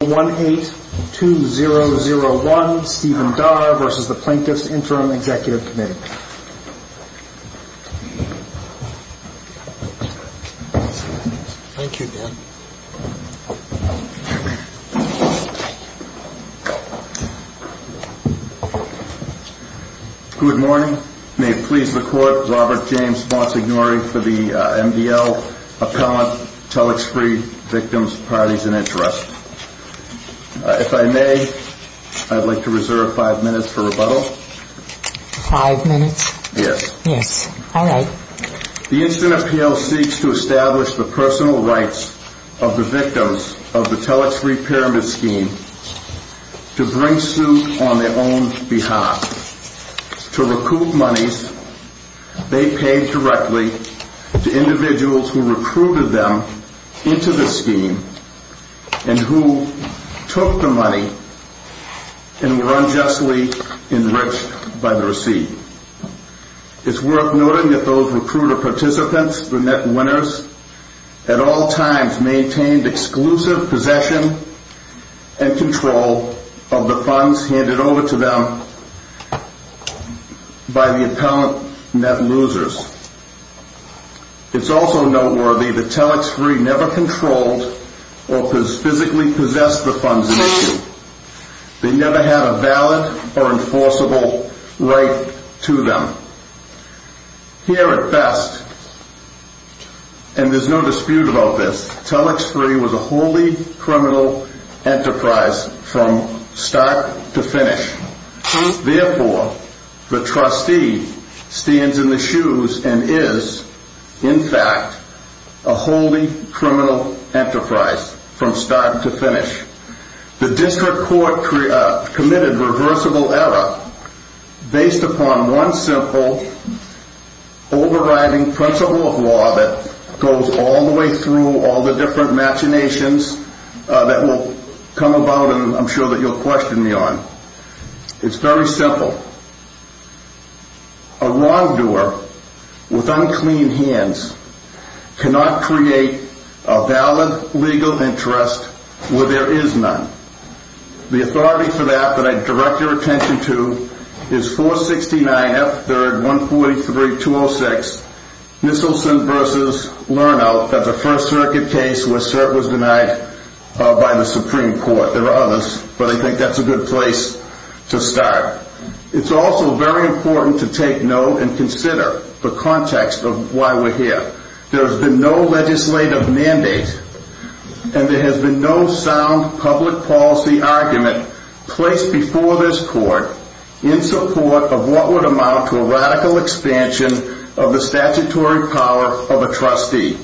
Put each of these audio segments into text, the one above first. Committee 182001 Stephen Darr v. Plaintiffs' Interim Executive Committee. Thank you, Dan. Good morning. May it please the Court, Robert James Monsignore for the MDL Appellant, Telex Free Victims, Parties and Interests. If I may, I'd like to reserve five minutes for rebuttal. Five minutes? Yes. Yes. All right. The Instant Appeal seeks to establish the personal rights of the victims of the Telex Free Parentage Scheme to bring suit on their own behalf. To recoup monies they paid directly to individuals who recruited them into the scheme and who took the money and were unjustly enriched by the receipt. It's worth noting that those recruiter participants, the net winners, at all times maintained exclusive possession and control of the funds handed over to them by the appellant net losers. It's also noteworthy that Telex Free never controlled or physically possessed the funds in issue. They never had a valid or enforceable right to them. Here at best, and there's no dispute about this, Telex Free was a wholly criminal enterprise from start to finish. Therefore, the trustee stands in the shoes and is, in fact, a wholly criminal enterprise from start to finish. The district court committed reversible error based upon one simple overriding principle of law that goes all the way through all the different machinations that will come about and I'm sure that you'll question me on. It's very simple. A wrongdoer with unclean hands cannot create a valid legal interest where there is none. The authority for that that I direct your attention to is 469 F. 3rd. 143. 206. Nisselson v. Learnout. That's a First Circuit case where cert was denied by the Supreme Court. There are others, but I think that's a good place to start. It's also very important to take note and consider the context of why we're here. There has been no legislative mandate and there has been no sound public policy argument placed before this court in support of what would amount to a radical expansion of the statutory power of a trustee.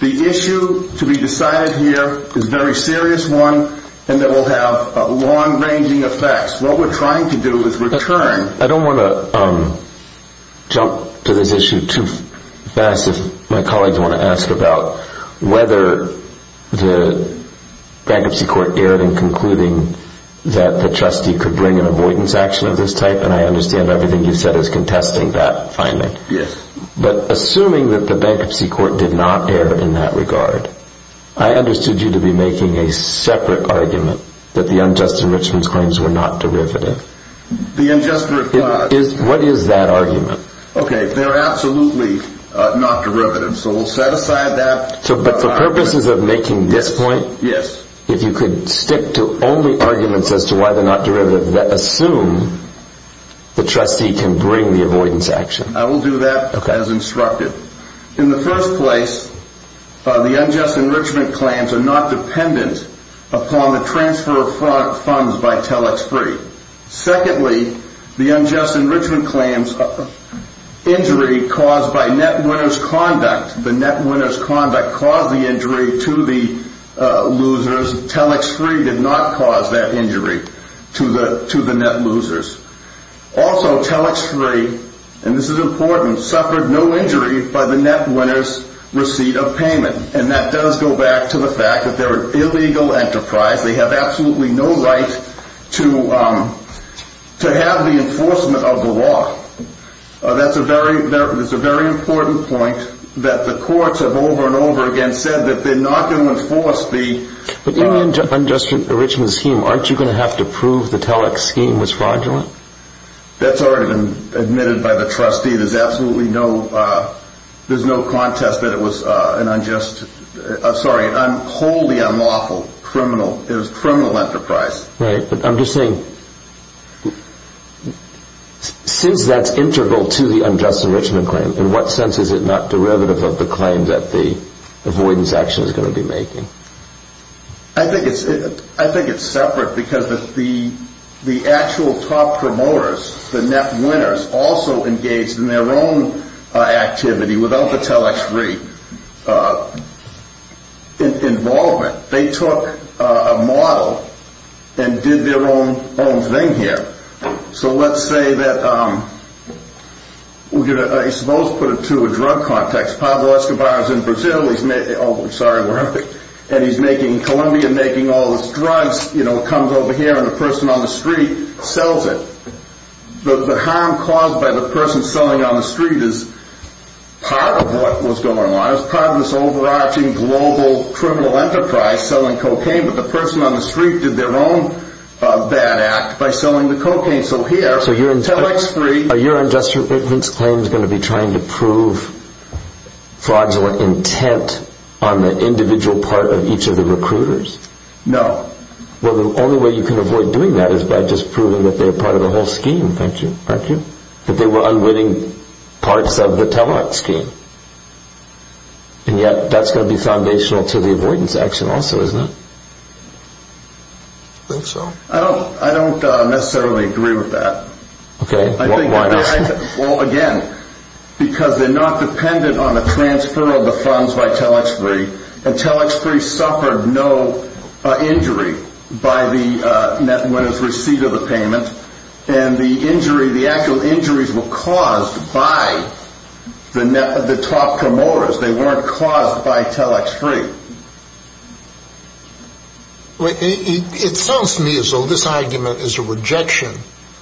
The issue to be decided here is a very serious one and that will have long-ranging effects. What we're trying to do is return... I don't want to jump to this issue too fast. My colleagues want to ask about whether the bankruptcy court erred in concluding that the trustee could bring an avoidance action of this type and I understand everything you said is contesting that finding. Yes. But assuming that the bankruptcy court did not err in that regard, I understood you to be making a separate argument that the unjust enrichment claims were not derivative. The unjust... What is that argument? Okay, they're absolutely not derivative, so we'll set aside that... But for purposes of making this point... Yes. If you could stick to only arguments as to why they're not derivative that assume the trustee can bring the avoidance action. I will do that as instructed. In the first place, the unjust enrichment claims are not dependent upon the transfer of funds by Telex Free. Secondly, the unjust enrichment claims are injury caused by net winner's conduct. The net winner's conduct caused the injury to the losers. Telex Free did not cause that injury to the net losers. Also, Telex Free, and this is important, suffered no injury by the net winner's receipt of payment. And that does go back to the fact that they're an illegal enterprise. They have absolutely no right to have the enforcement of the law. That's a very important point that the courts have over and over again said that they're not going to enforce the... But in the unjust enrichment scheme, aren't you going to have to prove the Telex scheme was fraudulent? That's already been admitted by the trustee. There's absolutely no... There's no contest that it was an unjust... Sorry, wholly unlawful criminal enterprise. Right, but I'm just saying, since that's integral to the unjust enrichment claim, in what sense is it not derivative of the claim that the avoidance action is going to be making? I think it's separate because the actual top promoters, the net winners, also engaged in their own activity without the Telex Free involvement. They took a model and did their own thing here. So let's say that... I suppose put it to a drug context. Pablo Escobar is in Brazil. Oh, I'm sorry. And he's making...Colombia making all these drugs. It comes over here and the person on the street sells it. The harm caused by the person selling on the street is part of what was going on. It was part of this overarching global criminal enterprise selling cocaine, but the person on the street did their own bad act by selling the cocaine. So here, Telex Free... Are your unjust enrichment claims going to be trying to prove fraudulent intent on the individual part of each of the recruiters? No. Well, the only way you can avoid doing that is by just proving that they're part of the whole scheme, aren't you? That they were unwitting parts of the Telex scheme. And yet, that's going to be foundational to the avoidance action also, isn't it? I think so. I don't necessarily agree with that. Okay. Why not? Well, again, because they're not dependent on the transfer of the funds by Telex Free. And Telex Free suffered no injury when it was received of the payment. And the actual injuries were caused by the top promoters. They weren't caused by Telex Free. It sounds to me as though this argument is a rejection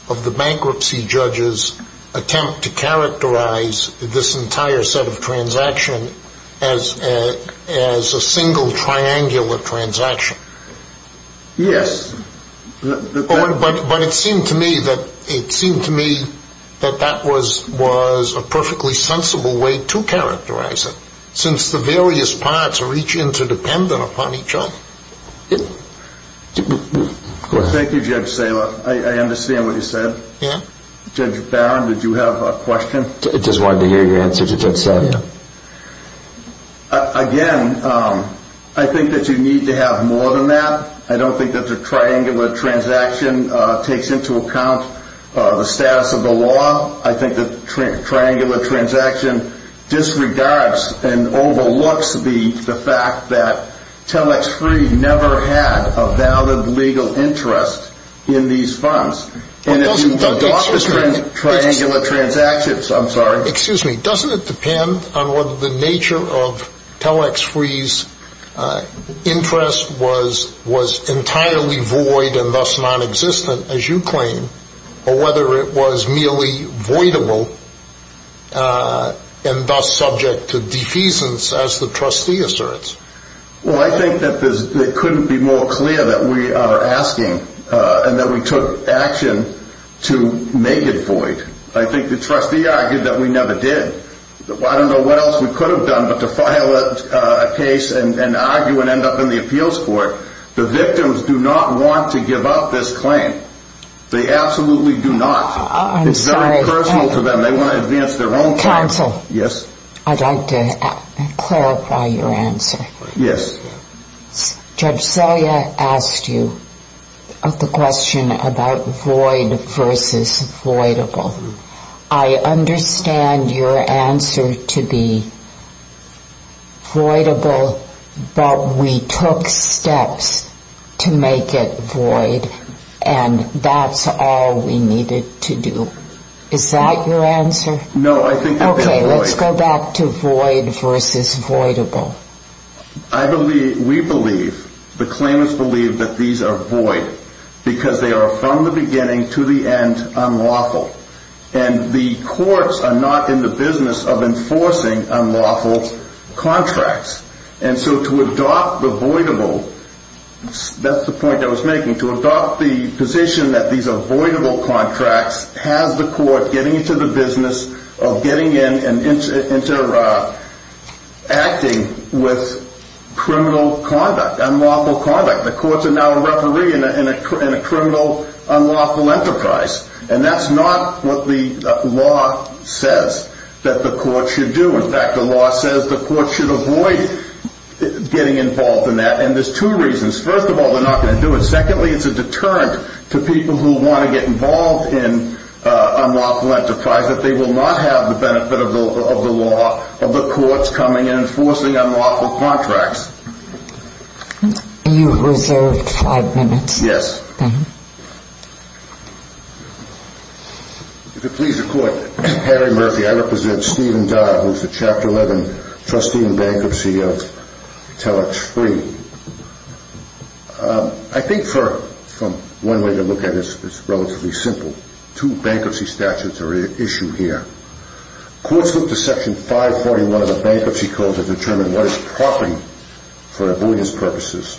of the bankruptcy judge's attempt to characterize this entire set of transactions as a single triangular transaction. Yes. But it seemed to me that that was a perfectly sensible way to characterize it, since the various parts are each interdependent upon each other. Thank you, Judge Saylor. I understand what you said. Judge Barron, did you have a question? I just wanted to hear your answer to Judge Saylor. Again, I think that you need to have more than that. I don't think that the triangular transaction takes into account the status of the law. I think the triangular transaction disregards and overlooks the fact that Telex Free never had a valid legal interest in these funds. And if you adopt the triangular transactions, I'm sorry. Excuse me. Doesn't it depend on whether the nature of Telex Free's interest was entirely void and thus non-existent, as you claim, or whether it was merely voidable and thus subject to defeasance, as the trustee asserts? Well, I think that it couldn't be more clear that we are asking and that we took action to make it void. I think the trustee argued that we never did. I don't know what else we could have done but to file a case and argue and end up in the appeals court. The victims do not want to give up this claim. They absolutely do not. I'm sorry. It's very personal to them. They want to advance their own claim. Counsel. Yes. I'd like to clarify your answer. Yes. Judge Selye asked you the question about void versus voidable. I understand your answer to be voidable but we took steps to make it void and that's all we needed to do. Is that your answer? No, I think that's void. Okay. Let's go back to void versus voidable. I believe, we believe, the claimants believe that these are void because they are from the beginning to the end unlawful. And the courts are not in the business of enforcing unlawful contracts. And so to adopt the voidable, that's the point I was making, to adopt the position that these are voidable contracts, has the court getting into the business of getting in and interacting with criminal conduct, unlawful conduct. The courts are now a referee in a criminal, unlawful enterprise. And that's not what the law says that the court should do. In fact, the law says the court should avoid getting involved in that. And there's two reasons. First of all, they're not going to do it. Secondly, it's a deterrent to people who want to get involved in unlawful enterprise, that they will not have the benefit of the law, of the courts coming in and enforcing unlawful contracts. You have reserved five minutes. Yes. Thank you. If it pleases the Court, Harry Murphy, I represent Stephen Dodd, who's the Chapter 11 Trustee in Bankruptcy of Telex Free. I think for one way to look at this, it's relatively simple. Two bankruptcy statutes are at issue here. Courts look to Section 541 of the Bankruptcy Code to determine what is property for avoidance purposes.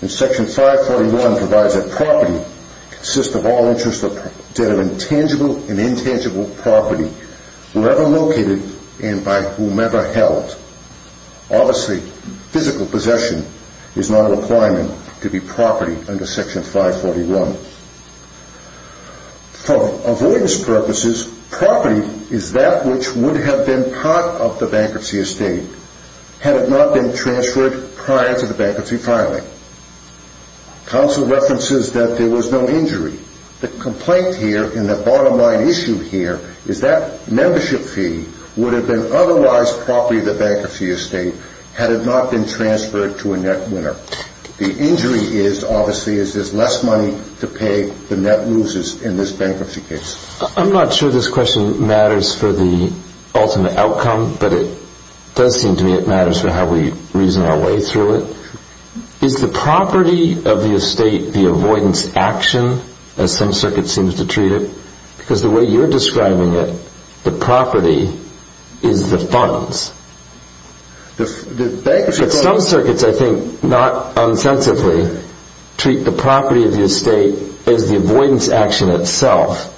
And Section 541 provides that property consists of all interest of debt of intangible and intangible property, wherever located and by whomever held. Obviously, physical possession is not a requirement to be property under Section 541. For avoidance purposes, property is that which would have been part of the bankruptcy estate had it not been transferred prior to the bankruptcy filing. Counsel references that there was no injury. The complaint here and the bottom line issue here is that membership fee would have been otherwise property of the bankruptcy estate had it not been transferred to a net winner. The injury is, obviously, is there's less money to pay the net losers in this bankruptcy case. I'm not sure this question matters for the ultimate outcome, but it does seem to me it matters for how we reason our way through it. Is the property of the estate the avoidance action, as some circuits seem to treat it? Because the way you're describing it, the property is the funds. But some circuits, I think, not unsensibly, treat the property of the estate as the avoidance action itself.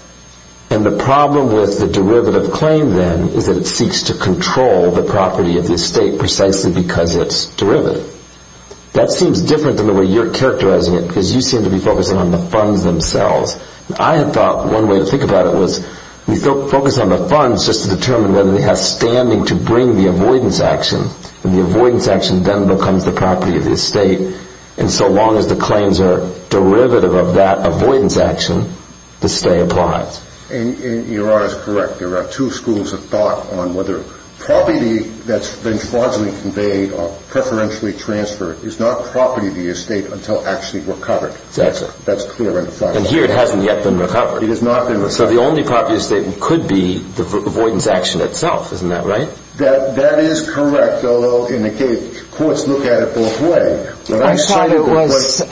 And the problem with the derivative claim, then, is that it seeks to control the property of the estate precisely because it's derivative. That seems different than the way you're characterizing it because you seem to be focusing on the funds themselves. I had thought one way to think about it was we focus on the funds just to determine whether they have standing to bring the avoidance action. And the avoidance action then becomes the property of the estate. And so long as the claims are derivative of that avoidance action, the stay applies. Your honor is correct. There are two schools of thought on whether property that's been fraudulently conveyed or preferentially transferred is not property of the estate until actually recovered. Exactly. That's clear in the facts. And here it hasn't yet been recovered. It has not been recovered. So the only property of the estate could be the avoidance action itself. Isn't that right? That is correct, although courts look at it both ways. I thought it was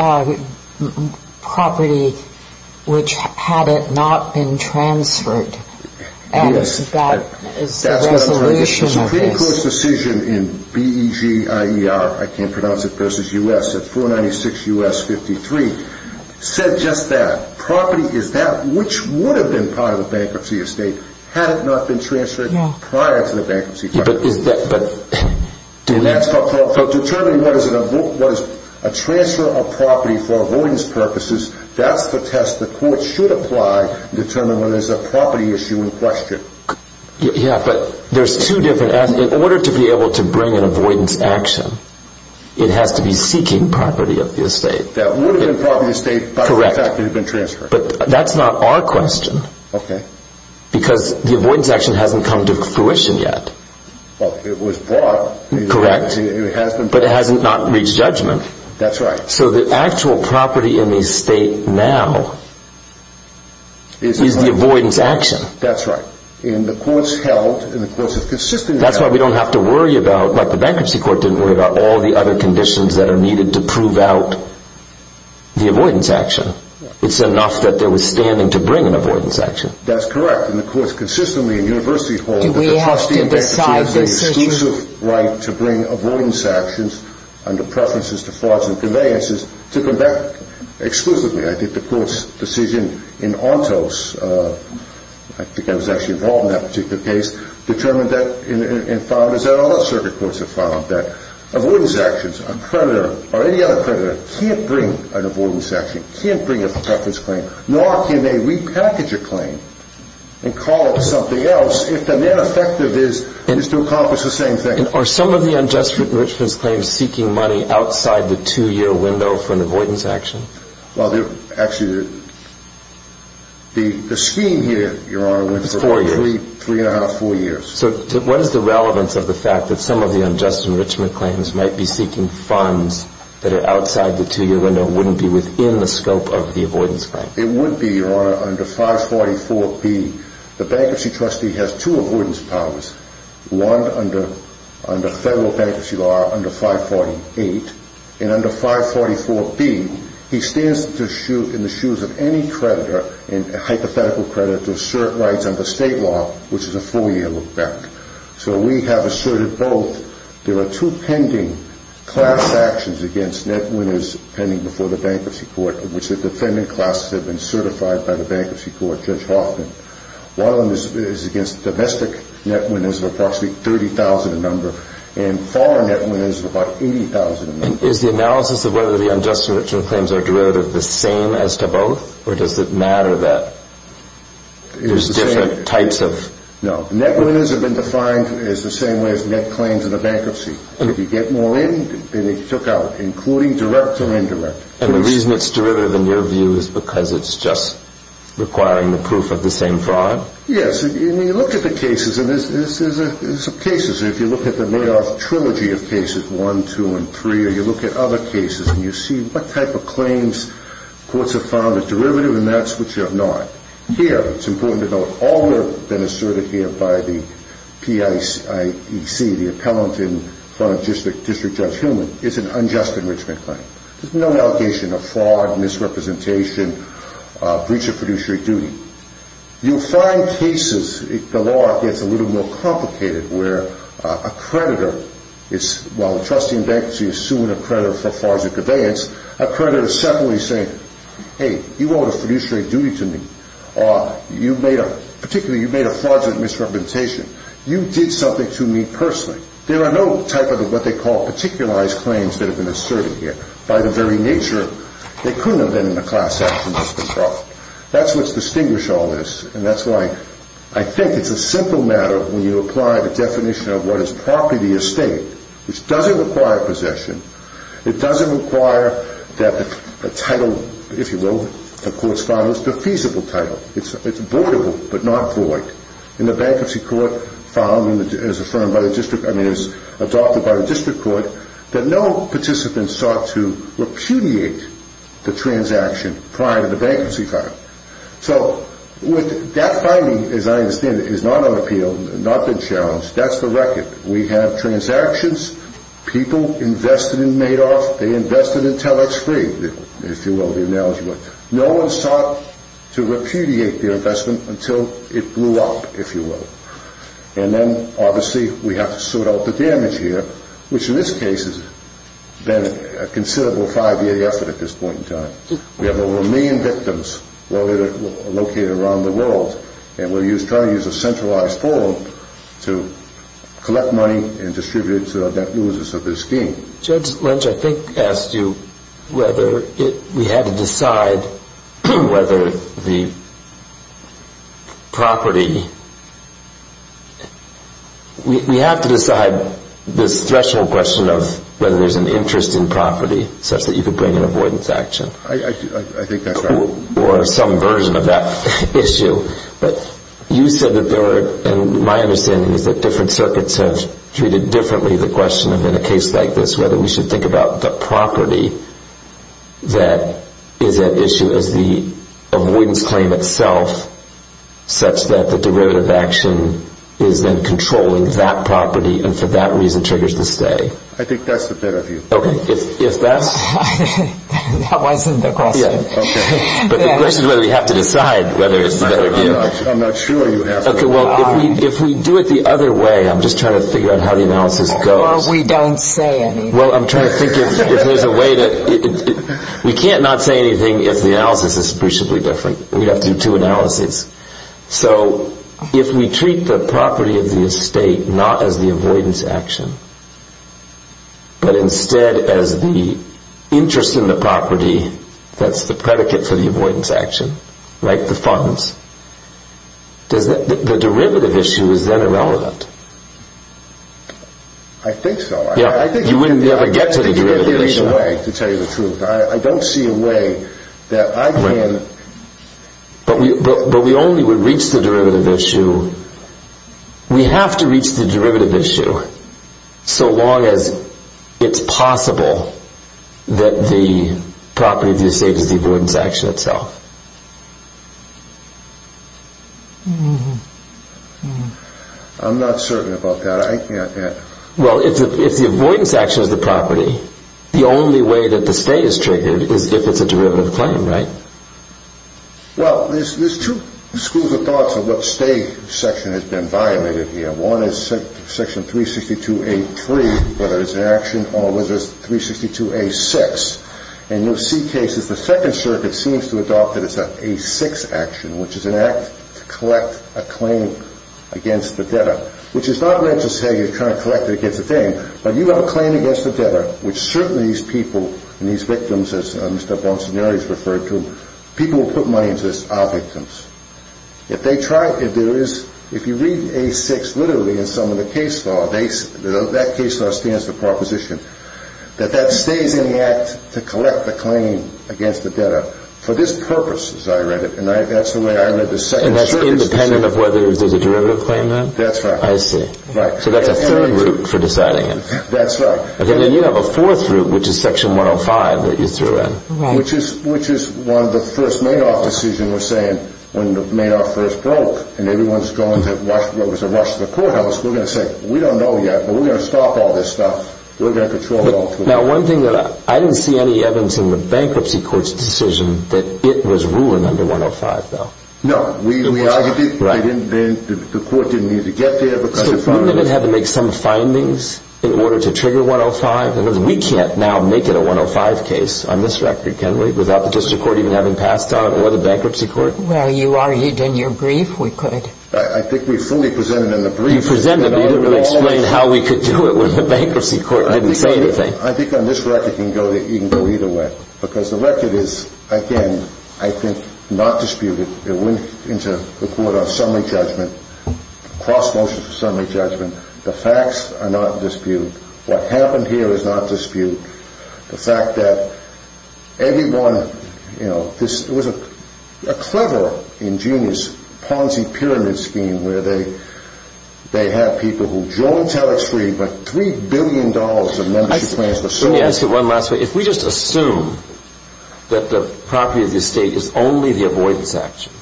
property which had it not been transferred. Yes. And that is the resolution of this. That's what I'm trying to get to. There's a pretty close decision in BEG, IER, I can't pronounce it, versus U.S. It's 496 U.S. 53, said just that. Property is that which would have been part of the bankruptcy estate had it not been transferred prior to the bankruptcy. But is that – So determining what is a transfer of property for avoidance purposes, that's the test the court should apply to determine whether there's a property issue in question. Yeah, but there's two different – in order to be able to bring an avoidance action, it has to be seeking property of the estate. That would have been property of the estate by the fact that it had been transferred. But that's not our question. Okay. Because the avoidance action hasn't come to fruition yet. Well, it was brought. Correct. But it hasn't not reached judgment. That's right. So the actual property in the estate now is the avoidance action. That's right. And the courts held, and the courts have consistently held – The avoidance action. Yeah. It's enough that there was standing to bring an avoidance action. That's correct. And the courts consistently and universally hold – Do we have to decide –– that the trustee and bankruptcy has an exclusive right to bring avoidance actions under preferences to frauds and conveyances to come back exclusively. I think the court's decision in Ontos – I think I was actually involved in that particular case – can't bring a preference claim, nor can they repackage a claim and call it something else if the net effect of this is to accomplish the same thing. And are some of the unjust enrichment claims seeking money outside the two-year window for an avoidance action? Well, actually, the scheme here, Your Honor, went for three and a half, four years. So what is the relevance of the fact that some of the unjust enrichment claims might be seeking funds that are outside the two-year window, wouldn't be within the scope of the avoidance claim? It would be, Your Honor, under 544B, the bankruptcy trustee has two avoidance powers. One, under federal bankruptcy law, under 548. And under 544B, he stands in the shoes of any creditor, a hypothetical creditor, to assert rights under state law, which is a four-year look back. So we have asserted both. There are two pending class actions against net winners pending before the Bankruptcy Court, which the defendant classes have been certified by the Bankruptcy Court, Judge Hoffman. Weiland is against domestic net winners of approximately 30,000 in number, and foreign net winners of about 80,000 in number. And is the analysis of whether the unjust enrichment claims are derivative the same as to both, or does it matter that there's different types of? No. Net winners have been defined as the same way as net claims in a bankruptcy. If you get more in, then it's took out, including direct or indirect. And the reason it's derivative, in your view, is because it's just requiring the proof of the same fraud? Yes. And you look at the cases, and there's some cases. If you look at the Madoff trilogy of cases, one, two, and three, or you look at other cases, and you see what type of claims courts have found as derivative, and that's what you have not. Here, it's important to note, all that has been asserted here by the PIEC, the Appellant in front of District Judge Hillman, is an unjust enrichment claim. There's no allegation of fraud, misrepresentation, breach of fiduciary duty. You'll find cases, the law gets a little more complicated, where a creditor is, while a trustee in bankruptcy is suing a creditor for fraudulent conveyance, a creditor is separately saying, hey, you owed a fiduciary duty to me. You made a, particularly, you made a fraudulent misrepresentation. You did something to me personally. There are no type of what they call particularized claims that have been asserted here. By the very nature of it, they couldn't have been in the class action that's been brought. That's what's distinguished all this, and that's why I think it's a simple matter, when you apply the definition of what is property estate, which doesn't require possession, it doesn't require that the title, if you will, the courts follow, is the feasible title. It's votable, but not void. And the bankruptcy court found, as adopted by the district court, that no participant sought to repudiate the transaction prior to the bankruptcy file. So with that finding, as I understand it, is not on appeal, not been challenged. That's the record. We have transactions. People invested in Madoff. They invested in Telex Free, if you will, the analogy. No one sought to repudiate their investment until it blew up, if you will. And then, obviously, we have to sort out the damage here, which in this case has been a considerable five-year effort at this point in time. We have over a million victims located around the world, and we're trying to use a centralized forum to collect money and distribute it so that it loses its esteem. Judge Lynch, I think, asked you whether we had to decide whether the property – we have to decide this threshold question of whether there's an interest in property such that you could bring an avoidance action. I think that's right. Or some version of that issue. But you said that there were – whether we should think about the property that is at issue as the avoidance claim itself, such that the derivative action is then controlling that property and for that reason triggers the stay. I think that's the better view. Okay. If that's – That wasn't the question. But the question is whether we have to decide whether it's the better view. I'm not sure you have to. Okay, well, if we do it the other way, I'm just trying to figure out how the analysis goes. Well, we don't say anything. Well, I'm trying to think if there's a way to – we can't not say anything if the analysis is appreciably different. We'd have to do two analyses. So if we treat the property of the estate not as the avoidance action, but instead as the interest in the property that's the predicate for the avoidance action, like the funds, the derivative issue is then irrelevant. I think so. Yeah, you wouldn't ever get to the derivative issue. I don't see a way to tell you the truth. I don't see a way that I can – But we only would reach the derivative issue – we have to reach the derivative issue so long as it's possible that the property of the estate is the avoidance action itself. I'm not certain about that. I can't – Well, if the avoidance action is the property, the only way that the estate is triggered is if it's a derivative claim, right? Well, there's two schools of thoughts of what state section has been violated here. One is section 362A3, whether it's an action or whether it's 362A6. And you'll see cases – the Second Circuit seems to adopt it as an A6 action, which is an act to collect a claim against the debtor, which is not meant to say you're trying to collect it against the thing, but you have a claim against the debtor, which certainly these people and these victims, as Mr. Bonsignori has referred to, people who put money into this are victims. If they try – if there is – if you read A6 literally in some of the case law, that case law stands for proposition, that that stays in the act to collect the claim against the debtor for this purpose, as I read it. And that's the way I read the Second Circuit's decision. And that's independent of whether there's a derivative claim then? That's right. I see. So that's a third route for deciding it. That's right. And then you have a fourth route, which is section 105 that you threw in. Which is one of the first Madoff decisions we're saying when Madoff first broke and everyone's going to – it was a rush to the courthouse. We're going to say, we don't know yet, but we're going to stop all this stuff. We're going to control it all. Now, one thing that I didn't see any evidence in the bankruptcy court's decision that it was ruling under 105, though. No. We argued it. Right. The court didn't need to get there because it finally – So we didn't have to make some findings in order to trigger 105? We can't now make it a 105 case on this record, can we, without the district court even having passed on it or the bankruptcy court? Well, you argued in your brief we could. I think we fully presented in the brief. You presented, but you didn't really explain how we could do it when the bankruptcy court didn't say anything. I think on this record you can go either way. Because the record is, again, I think not disputed. It went into the court on summary judgment, cross-motion for summary judgment. The facts are not disputed. What happened here is not disputed. The fact that everyone, you know, it was a clever, ingenious Ponzi pyramid scheme where they had people who joined Teller Street, but $3 billion of membership plans were sold. Let me ask it one last way. If we just assume that the property of the estate is only the avoidance action,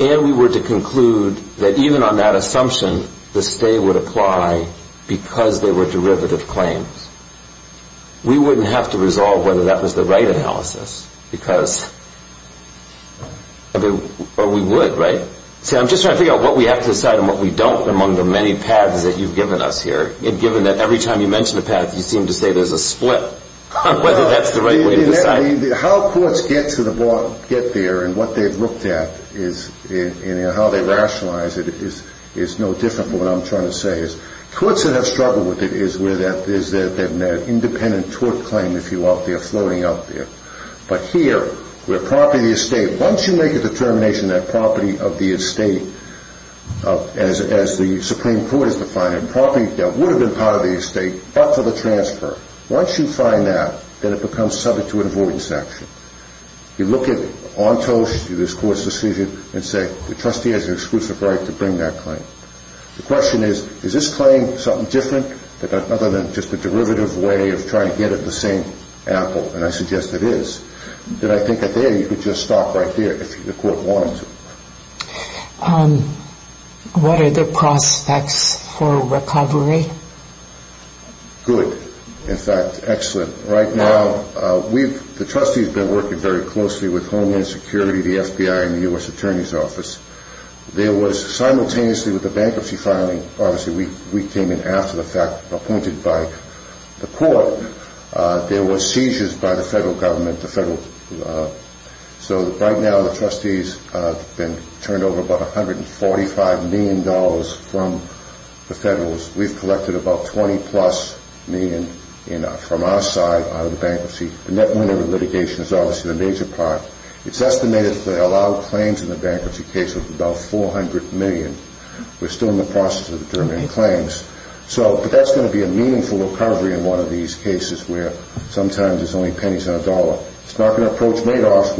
and we were to conclude that even on that assumption, the stay would apply because there were derivative claims, we wouldn't have to resolve whether that was the right analysis. Because, or we would, right? See, I'm just trying to figure out what we have to decide and what we don't among the many paths that you've given us here. And given that every time you mention a path, you seem to say there's a split on whether that's the right way to decide. How courts get to the bottom, get there, and what they've looked at and how they rationalize it is no different from what I'm trying to say. Courts that have struggled with it is where there's that independent tort claim, if you will, floating out there. But here, where property of the estate, once you make a determination that property of the estate, as the Supreme Court has defined it, property that would have been part of the estate but for the transfer, once you find that, then it becomes subject to an avoidance action. You look at on toast to this court's decision and say, the trustee has an exclusive right to bring that claim. The question is, is this claim something different other than just a derivative way of trying to get at the same apple? And I suggest it is. And I think that there you could just stop right there if the court wanted to. What are the prospects for recovery? Good. In fact, excellent. Right now, the trustees have been working very closely with Homeland Security, the FBI, and the U.S. Attorney's Office. There was simultaneously with the bankruptcy filing, obviously we came in after the fact appointed by the court, there were seizures by the federal government. So right now the trustees have been turned over about $145 million from the federals. We've collected about $20 plus million from our side out of the bankruptcy. The net win over litigation is obviously the major part. It's estimated that they allowed claims in the bankruptcy case of about $400 million. We're still in the process of determining claims. But that's going to be a meaningful recovery in one of these cases where sometimes there's only pennies in a dollar. It's not going to approach Madoff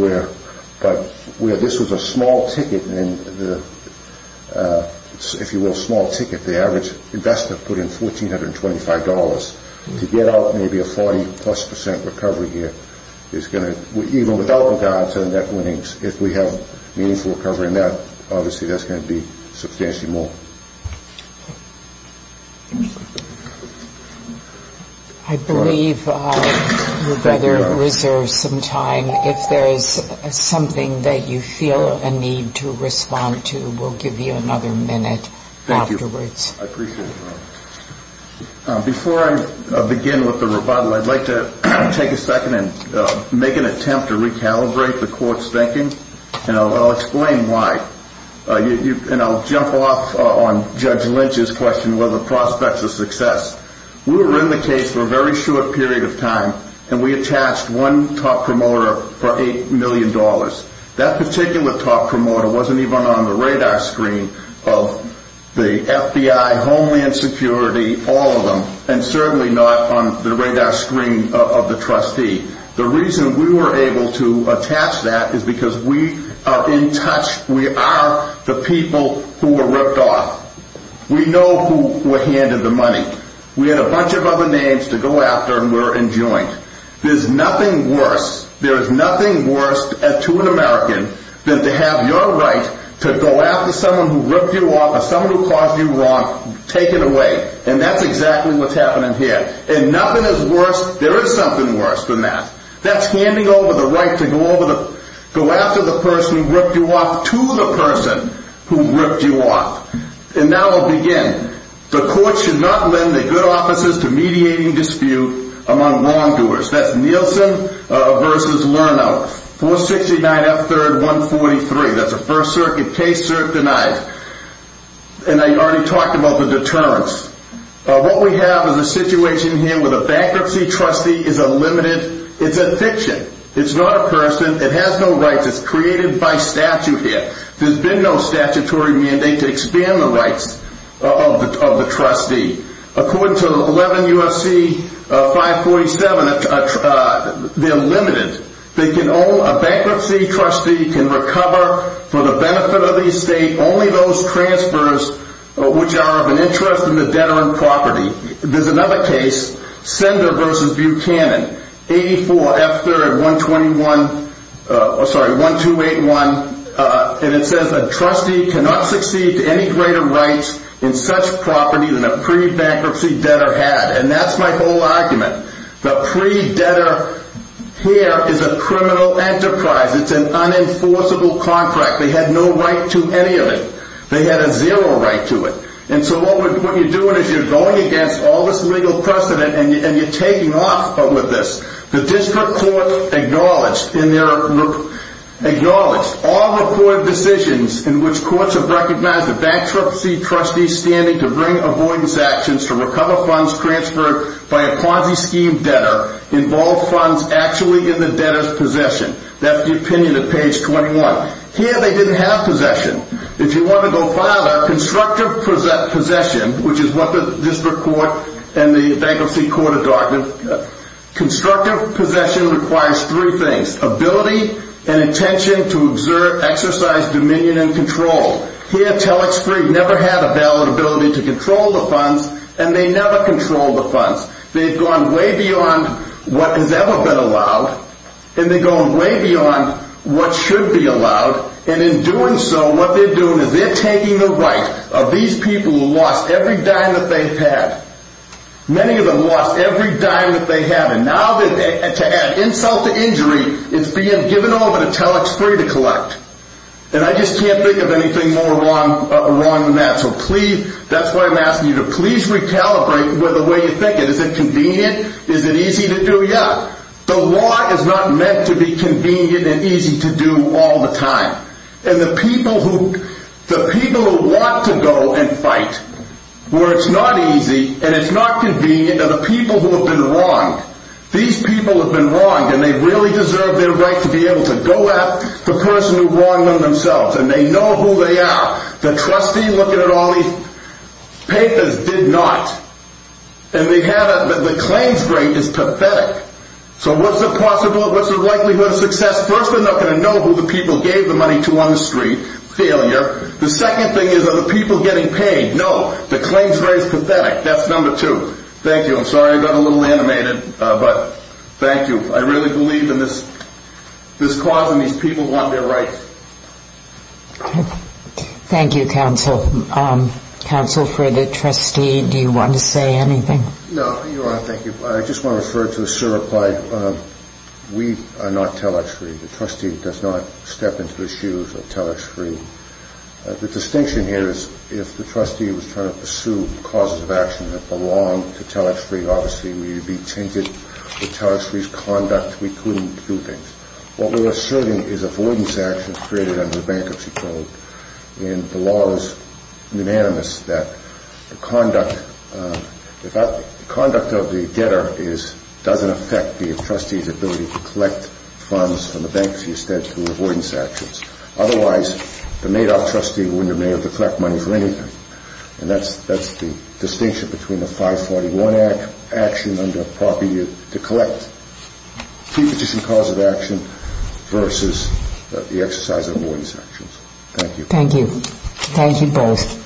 where this was a small ticket, if you will, a small ticket, the average investor put in $1,425. To get out maybe a 40-plus percent recovery here is going to, even without regard to the net winnings, if we have meaningful recovery in that, obviously that's going to be substantially more. I believe we'd better reserve some time. If there's something that you feel a need to respond to, we'll give you another minute afterwards. Thank you. I appreciate it. Before I begin with the rebuttal, I'd like to take a second and make an attempt to recalibrate the court's thinking. I'll explain why. I'll jump off on Judge Lynch's question whether the prospects are success. We were in the case for a very short period of time, and we attached one top promoter for $8 million. That particular top promoter wasn't even on the radar screen of the FBI, Homeland Security, all of them, and certainly not on the radar screen of the trustee. The reason we were able to attach that is because we are in touch. We are the people who were ripped off. We know who were handed the money. We had a bunch of other names to go after, and we're in joint. There's nothing worse, there is nothing worse to an American than to have your right to go after someone who ripped you off or someone who caused you wrong, taken away. And that's exactly what's happening here. And nothing is worse, there is something worse than that. That's handing over the right to go after the person who ripped you off to the person who ripped you off. And now I'll begin. The court should not lend the good offices to mediating dispute among wrongdoers. That's Nielsen v. Lernow, 469 F. 3rd, 143. That's a First Circuit case, cert denied. And I already talked about the deterrence. What we have is a situation here where the bankruptcy trustee is a limited, it's a fiction, it's not a person, it has no rights, it's created by statute here. There's been no statutory mandate to expand the rights of the trustee. According to 11 U.S.C. 547, they're limited. A bankruptcy trustee can recover for the benefit of the estate only those transfers which are of an interest in the deterrent property. There's another case, Sender v. Buchanan, 84 F. 3rd, 1281. And it says a trustee cannot succeed to any greater rights in such property than a pre-bankruptcy debtor had. And that's my whole argument. The pre-debtor here is a criminal enterprise. It's an unenforceable contract. They had no right to any of it. They had a zero right to it. And so what you're doing is you're going against all this legal precedent and you're taking off with this. The district court acknowledged all reported decisions in which courts have recognized a bankruptcy trustee standing to bring avoidance actions to recover funds transferred by a Ponzi scheme debtor involved funds actually in the debtor's possession. That's the opinion at page 21. Here they didn't have possession. If you want to go further, constructive possession, which is what the district court and the bankruptcy court have documented, constructive possession requires three things, ability and intention to exert exercise, dominion, and control. Here, Telex III never had a valid ability to control the funds, and they never controlled the funds. They've gone way beyond what has ever been allowed, and they've gone way beyond what should be allowed, and in doing so, what they're doing is they're taking the right of these people who lost every dime that they've had. Many of them lost every dime that they had, and now to add insult to injury, it's being given over to Telex III to collect, and I just can't think of anything more wrong than that, so that's why I'm asking you to please recalibrate the way you think. Is it convenient? Is it easy to do? Yeah. The law is not meant to be convenient and easy to do all the time, and the people who want to go and fight, where it's not easy and it's not convenient, are the people who have been wronged. These people have been wronged, and they really deserve their right to be able to go at the person who wronged them themselves, and they know who they are. The trustee looking at all these papers did not, and the claims rate is pathetic, so what's the likelihood of success? First, they're not going to know who the people gave the money to on the street. Failure. The second thing is, are the people getting paid? No. The claims rate is pathetic. That's number two. Thank you. I'm sorry I got a little animated, but thank you. I really believe in this cause, and these people want their rights. Thank you, Counsel. Counsel, for the trustee, do you want to say anything? No, Your Honor. Thank you. I just want to refer to a suripply. We are not Telex III. The trustee does not step into the shoes of Telex III. The distinction here is, if the trustee was trying to pursue causes of action that belonged to Telex III, obviously we would be tainted with Telex III's conduct. We couldn't do things. What we're asserting is avoidance actions created under the Bankruptcy Code, and the law is unanimous that the conduct of the debtor doesn't affect the trustee's ability to collect funds from the bankruptcy instead through avoidance actions. Otherwise, the Madoff trustee wouldn't have been able to collect money for anything, and that's the distinction between a 541 action under a property to collect prepetition cause of action versus the exercise of avoidance actions. Thank you. Thank you. Thank you both.